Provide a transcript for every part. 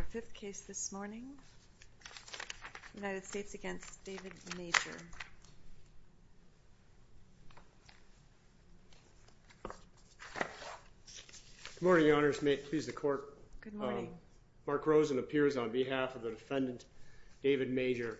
Our fifth case this morning, United States v. David Major. Good morning, Your Honors. Please, the Court. Good morning. Mark Rosen appears on behalf of the defendant, David Major.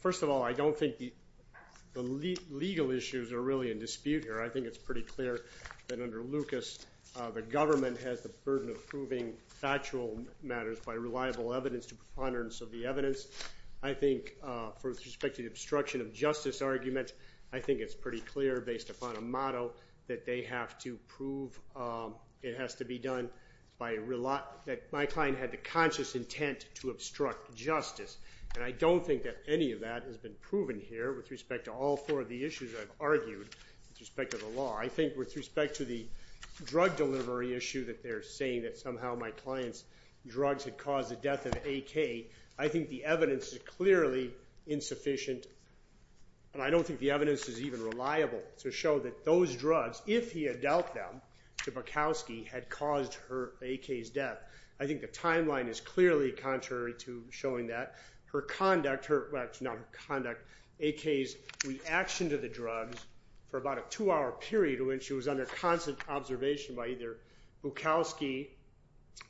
First of all, I don't think the legal issues are really in dispute here. I think it's pretty clear that under Lucas, the government has the burden of proving factual matters by reliable evidence to preponderance of the evidence. I think, with respect to the obstruction of justice argument, I think it's pretty clear, based upon a motto, that they have to prove it has to be done by – that my client had the conscious intent to obstruct justice. And I don't think that any of that has been proven here with respect to all four of the issues I've argued with respect to the law. I think, with respect to the drug delivery issue that they're saying that somehow my client's drugs had caused the death of A.K., I think the evidence is clearly insufficient. And I don't think the evidence is even reliable to show that those drugs, if he had dealt them to Bukowski, had caused A.K.'s death. I think the timeline is clearly contrary to showing that. Her conduct – well, not her conduct – A.K.'s reaction to the drugs for about a two-hour period when she was under constant observation by either Bukowski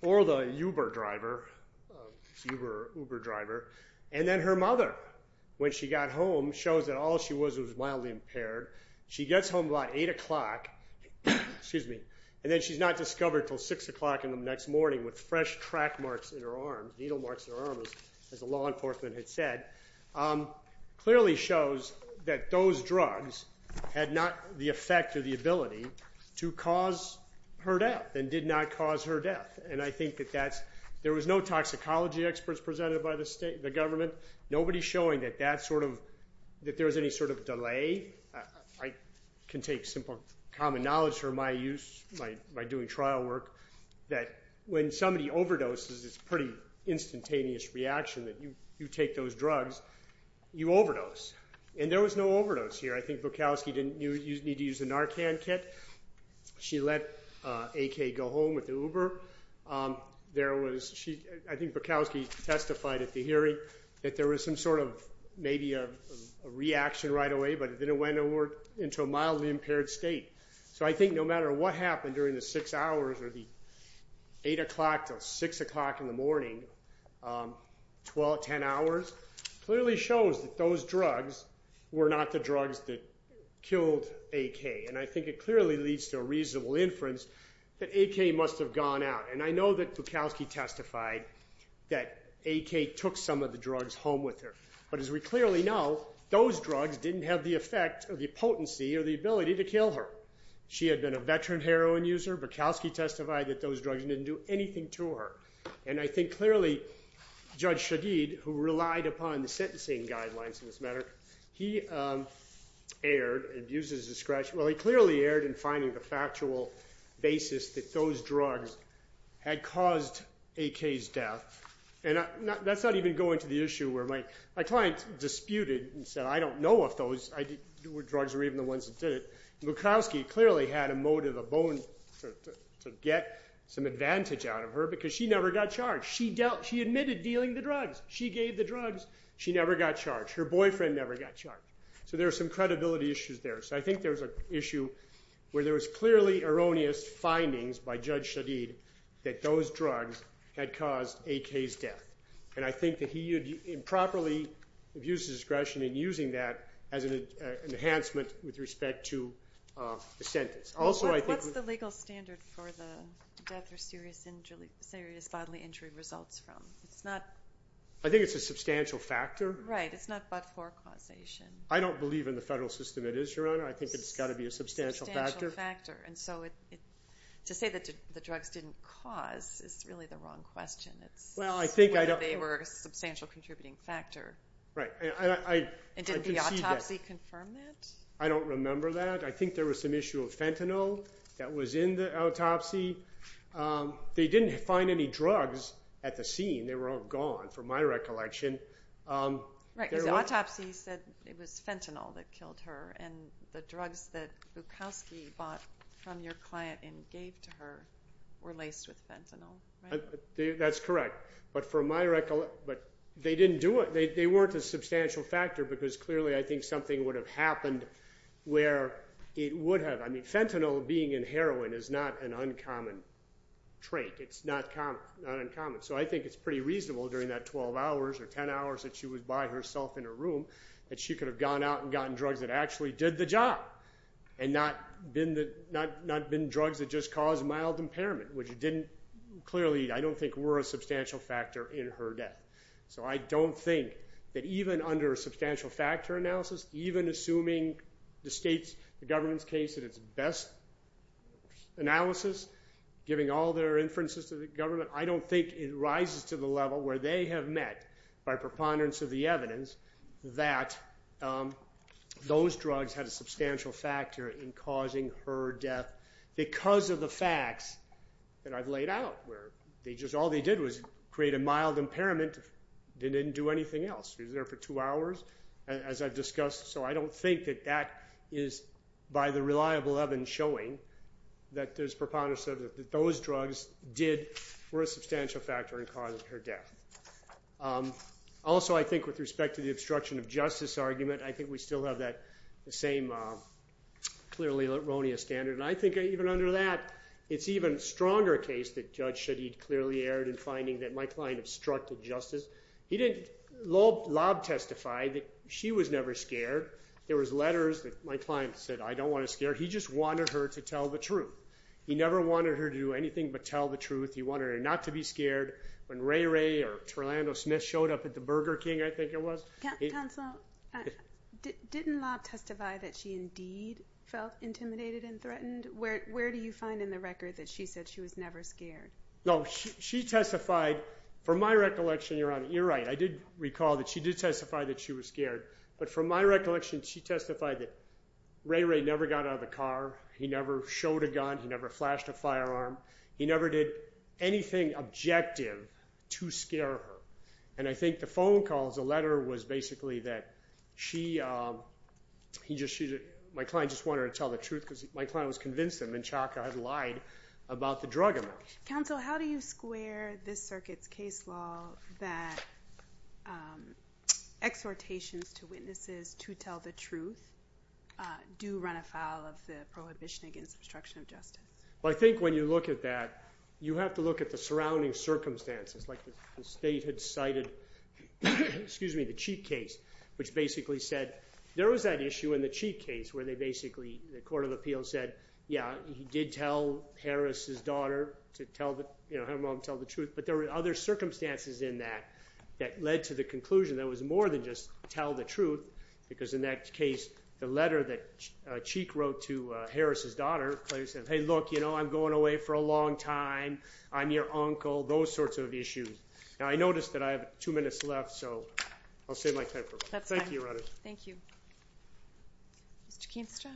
or the Uber driver, and then her mother, when she got home, shows that all she was was mildly impaired. She gets home about 8 o'clock, and then she's not discovered until 6 o'clock in the next morning with fresh track marks in her arms, needle marks in her arms, as the law enforcement had said, clearly shows that those drugs had not the effect or the ability to cause her death and did not cause her death. And I think that that's – there was no toxicology experts presented by the government. Nobody's showing that that sort of – that there was any sort of delay. I can take simple common knowledge for my use by doing trial work that when somebody overdoses, it's a pretty instantaneous reaction that you take those drugs, you overdose. And there was no overdose here. I think Bukowski didn't need to use the Narcan kit. She let A.K. go home with the Uber. There was – I think Bukowski testified at the hearing that there was some sort of maybe a reaction right away, but then it went into a mildly impaired state. So I think no matter what happened during the 6 hours or the 8 o'clock to 6 o'clock in the morning, 12, 10 hours, clearly shows that those drugs were not the drugs that killed A.K. And I think it clearly leads to a reasonable inference that A.K. must have gone out. And I know that Bukowski testified that A.K. took some of the drugs home with her. But as we clearly know, those drugs didn't have the effect or the potency or the ability to kill her. She had been a veteran heroin user. Bukowski testified that those drugs didn't do anything to her. And I think clearly Judge Shagid, who relied upon the sentencing guidelines in this matter, he erred and used it as a scratch. Well, he clearly erred in finding the factual basis that those drugs had caused A.K.'s death. And that's not even going to the issue where my client disputed and said, I don't know if those drugs were even the ones that did it. Bukowski clearly had a motive, a bone to get some advantage out of her because she never got charged. She admitted dealing the drugs. She gave the drugs. She never got charged. Her boyfriend never got charged. So there are some credibility issues there. So I think there's an issue where there was clearly erroneous findings by Judge Shagid that those drugs had caused A.K.'s death. And I think that he improperly abused his discretion in using that as an enhancement with respect to the sentence. What's the legal standard for the death or serious bodily injury results from? I think it's a substantial factor. Right. It's not but-for causation. I don't believe in the federal system it is, Your Honor. I think it's got to be a substantial factor. Substantial factor. And so to say that the drugs didn't cause is really the wrong question. It's whether they were a substantial contributing factor. Right. And didn't the autopsy confirm that? I don't remember that. I think there was some issue of fentanyl that was in the autopsy. They didn't find any drugs at the scene. They were all gone from my recollection. Right. Because the autopsy said it was fentanyl that killed her. And the drugs that Bukowski bought from your client and gave to her were laced with fentanyl, right? That's correct. But from my recollection, they didn't do it. They weren't a substantial factor because, clearly, I think something would have happened where it would have. I mean, fentanyl being in heroin is not an uncommon trait. It's not uncommon. So I think it's pretty reasonable during that 12 hours or 10 hours that she was by herself in her room that she could have gone out and gotten drugs that actually did the job and not been drugs that just caused mild impairment, which clearly I don't think were a substantial factor in her death. So I don't think that even under a substantial factor analysis, even assuming the government's case at its best analysis, giving all their inferences to the government, I don't think it rises to the level where they have met by preponderance of the evidence that those drugs had a substantial factor in causing her death because of the facts that I've laid out, where all they did was create a mild impairment. They didn't do anything else. She was there for two hours, as I've discussed. So I don't think that that is, by the reliable evidence showing, that there's preponderance that those drugs were a substantial factor in causing her death. Also, I think with respect to the obstruction of justice argument, I think we still have that same clearly erroneous standard. And I think even under that, it's an even stronger case that Judge Shadid clearly erred in finding that my client obstructed justice. He didn't lob testify that she was never scared. There was letters that my client said, I don't want to scare her. He just wanted her to tell the truth. He never wanted her to do anything but tell the truth. He wanted her not to be scared. When Ray Ray or Orlando Smith showed up at the Burger King, I think it was. Counsel, didn't lob testify that she indeed felt intimidated and threatened? Where do you find in the record that she said she was never scared? No, she testified. From my recollection, Your Honor, you're right. I did recall that she did testify that she was scared. But from my recollection, she testified that Ray Ray never got out of the car. He never showed a gun. He never flashed a firearm. He never did anything objective to scare her. And I think the phone calls, the letter was basically that my client just wanted her to tell the truth because my client was convinced him and Chaka had lied about the drug amount. Counsel, how do you square this circuit's case law that exhortations to witnesses to tell the truth do run afoul of the Prohibition Against Obstruction of Justice? I think when you look at that, you have to look at the surrounding circumstances. Like the state had cited the Cheek case, which basically said there was that issue in the Cheek case where they basically, the Court of Appeals said, yeah, he did tell Harris' daughter to tell the truth, but there were other circumstances in that that led to the conclusion that it was more than just tell the truth because in that case, the letter that Cheek wrote to Harris' daughter, clearly said, hey, look, you know, I'm going away for a long time. I'm your uncle, those sorts of issues. Now, I noticed that I have two minutes left, so I'll save my time for a moment. That's fine. Thank you, Your Honor. Thank you. Mr. Kinstra.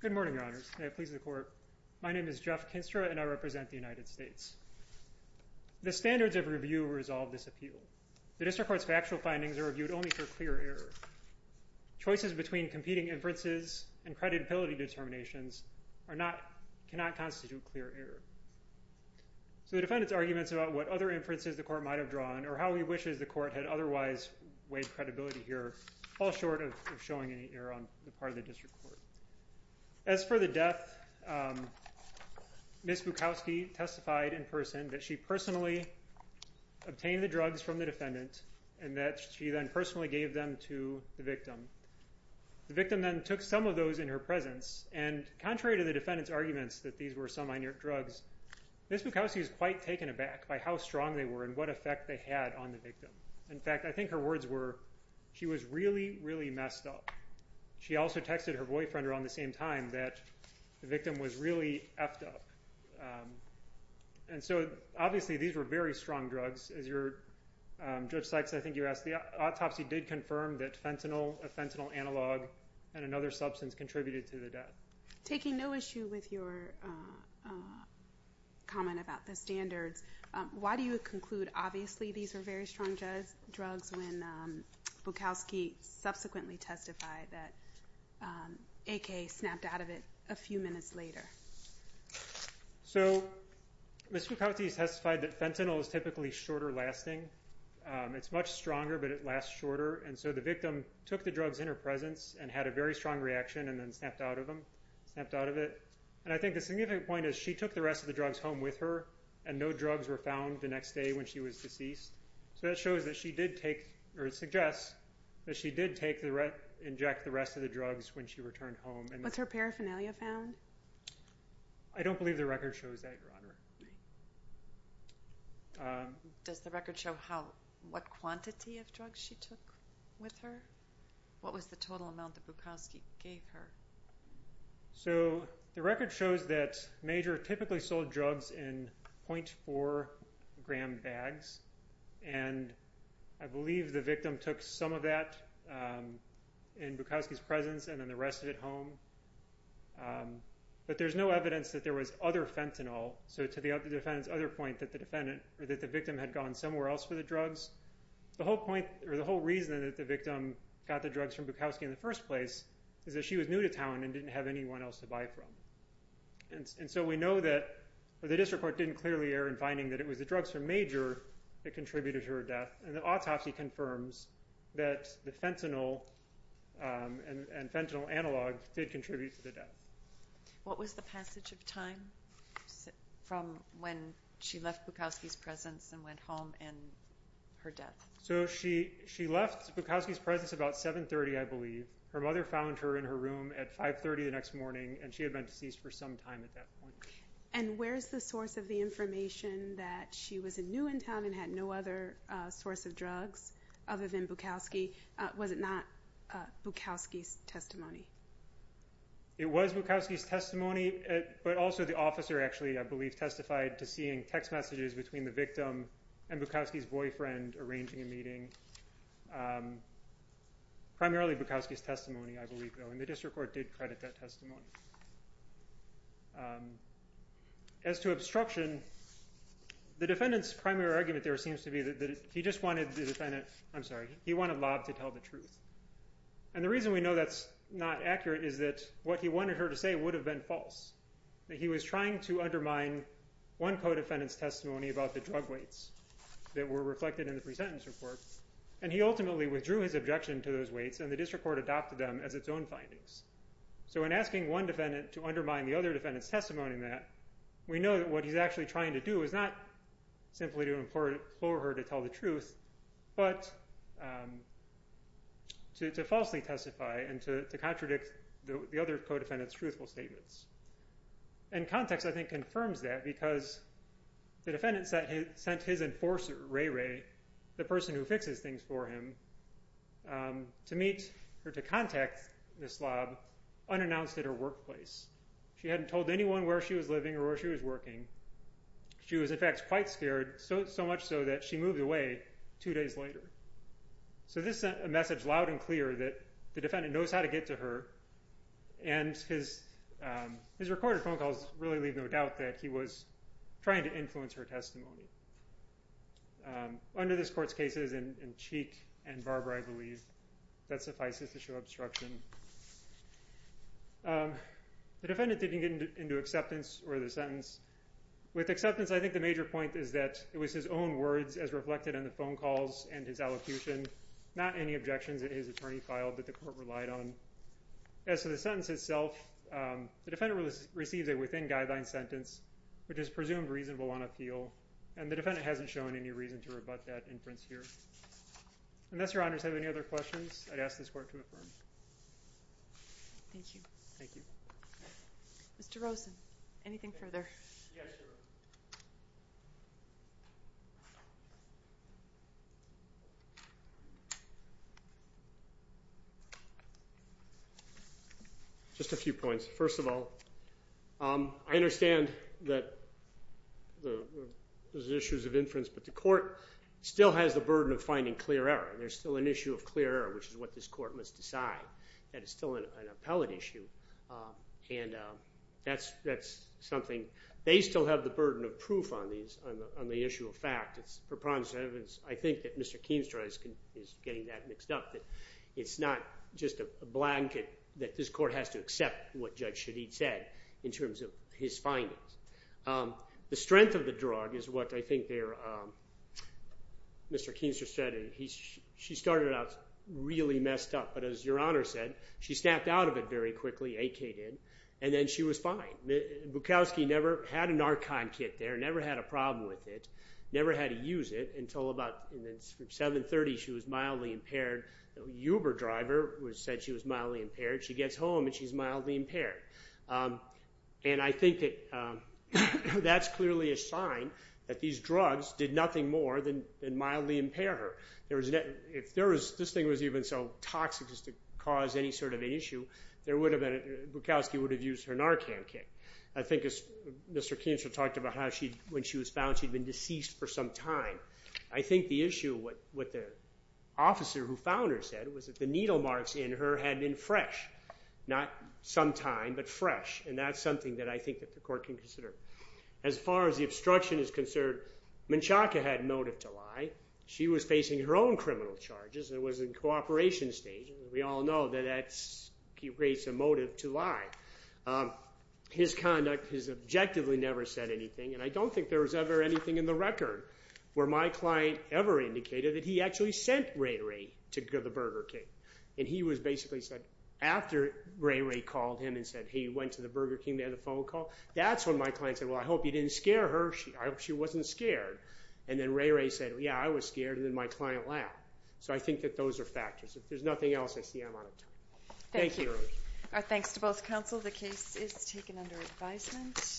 Good morning, Your Honors, and may it please the Court. My name is Jeff Kinstra, and I represent the United States. The standards of review resolve this appeal. The district court's factual findings are reviewed only for clear error. Choices between competing inferences and credibility determinations cannot constitute clear error. So the defendant's arguments about what other inferences the court might have drawn or how he wishes the court had otherwise weighed credibility here fall short of showing any error on the part of the district court. As for the death, Ms. Bukowski testified in person that she personally obtained the drugs from the defendant and that she then personally gave them to the victim. The victim then took some of those in her presence, and contrary to the defendant's arguments that these were some inert drugs, Ms. Bukowski was quite taken aback by how strong they were and what effect they had on the victim. In fact, I think her words were, she was really, really messed up. She also texted her boyfriend around the same time that the victim was really effed up. And so, obviously, these were very strong drugs. Judge Sykes, I think you asked, the autopsy did confirm that fentanyl, a fentanyl analog, and another substance contributed to the death. Taking no issue with your comment about the standards, why do you conclude, obviously, these were very strong drugs when Bukowski subsequently testified that AK snapped out of it a few minutes later? So Ms. Bukowski testified that fentanyl is typically shorter lasting. It's much stronger, but it lasts shorter. And so the victim took the drugs in her presence and had a very strong reaction and then snapped out of it. And I think the significant point is she took the rest of the drugs home with her, and no drugs were found the next day when she was deceased. So that shows that she did take, or suggests that she did inject the rest of the drugs when she returned home. Was her paraphernalia found? I don't believe the record shows that, Your Honor. Does the record show what quantity of drugs she took with her? What was the total amount that Bukowski gave her? So the record shows that Major typically sold drugs in .4 gram bags, and I believe the victim took some of that in Bukowski's presence and then the rest of it home. But there's no evidence that there was other fentanyl, so to the defendant's other point that the victim had gone somewhere else for the drugs, the whole point or the whole reason that the victim got the drugs from Bukowski in the first place is that she was new to town and didn't have anyone else to buy from. And so we know that the district court didn't clearly err in finding that it was the drugs from Major that contributed to her death, and the autopsy confirms that the fentanyl and fentanyl analog did contribute to the death. What was the passage of time from when she left Bukowski's presence and went home and her death? So she left Bukowski's presence about 7.30, I believe. Her mother found her in her room at 5.30 the next morning, and she had been deceased for some time at that point. And where's the source of the information that she was new in town and had no other source of drugs other than Bukowski? Was it not Bukowski's testimony? It was Bukowski's testimony, but also the officer actually, I believe, testified to seeing text messages between the victim and Bukowski's boyfriend arranging a meeting. Primarily Bukowski's testimony, I believe, though, and the district court did credit that testimony. As to obstruction, the defendant's primary argument there seems to be that he just wanted the defendant – I'm sorry, he wanted Lobb to tell the truth. And the reason we know that's not accurate is that what he wanted her to say would have been false, that he was trying to undermine one co-defendant's testimony about the drug weights that were reflected in the pre-sentence report, and he ultimately withdrew his objection to those weights and the district court adopted them as its own findings. So in asking one defendant to undermine the other defendant's testimony in that, we know that what he's actually trying to do is not simply to implore her to tell the truth, but to falsely testify and to contradict the other co-defendant's truthful statements. And context, I think, confirms that because the defendant sent his enforcer, Ray Ray, the person who fixes things for him, to contact Ms. Lobb unannounced at her workplace. She hadn't told anyone where she was living or where she was working. She was, in fact, quite scared, so much so that she moved away two days later. So this sent a message loud and clear that the defendant knows how to get to her, and his recorded phone calls really leave no doubt that he was trying to influence her testimony. Under this court's cases in Cheek and Barber, I believe, that suffices to show obstruction. The defendant didn't get into acceptance or the sentence. With acceptance, I think the major point is that it was his own words as reflected in the phone calls and his allocution, not any objections that his attorney filed that the court relied on. As to the sentence itself, the defendant received a within-guideline sentence, which is presumed reasonable on appeal, and the defendant hasn't shown any reason to rebut that inference here. Unless Your Honors have any other questions, I'd ask this court to affirm. Thank you. Thank you. Mr. Rosen, anything further? Yes, Your Honor. Just a few points. First of all, I understand that there's issues of inference, but the court still has the burden of finding clear error. There's still an issue of clear error, which is what this court must decide. That is still an appellate issue, and that's something. They still have the burden of proof on the issue of fact. It's preponderance. I think that Mr. Keenstra is getting that mixed up, that it's not just a blanket that this court has to accept what Judge Shadid said in terms of his findings. The strength of the drug is what I think Mr. Keenstra said. She started out really messed up, but as Your Honor said, she snapped out of it very quickly, AK did, and then she was fine. Bukowski never had a Narcon kit there, never had a problem with it, never had to use it until about 730 she was mildly impaired. The Uber driver said she was mildly impaired. She gets home and she's mildly impaired. And I think that that's clearly a sign that these drugs did nothing more than mildly impair her. If this thing was even so toxic as to cause any sort of an issue, Bukowski would have used her Narcon kit. I think Mr. Keenstra talked about how when she was found she'd been deceased for some time. I think the issue with the officer who found her said was that the needle marks in her had been fresh, not some time, but fresh, and that's something that I think the court can consider. As far as the obstruction is concerned, Menchaca had motive to lie. She was facing her own criminal charges and was in cooperation stage. We all know that that creates a motive to lie. His conduct has objectively never said anything, and I don't think there was ever anything in the record where my client ever indicated that he actually sent Ray Ray to the Burger King. And he basically said after Ray Ray called him and said, hey, you went to the Burger King, they had a phone call. That's when my client said, well, I hope you didn't scare her. I hope she wasn't scared. And then Ray Ray said, yeah, I was scared, and then my client left. So I think that those are factors. If there's nothing else, I see I'm out of time. Thank you. Thank you. Our thanks to both counsel. The case is taken under advisement.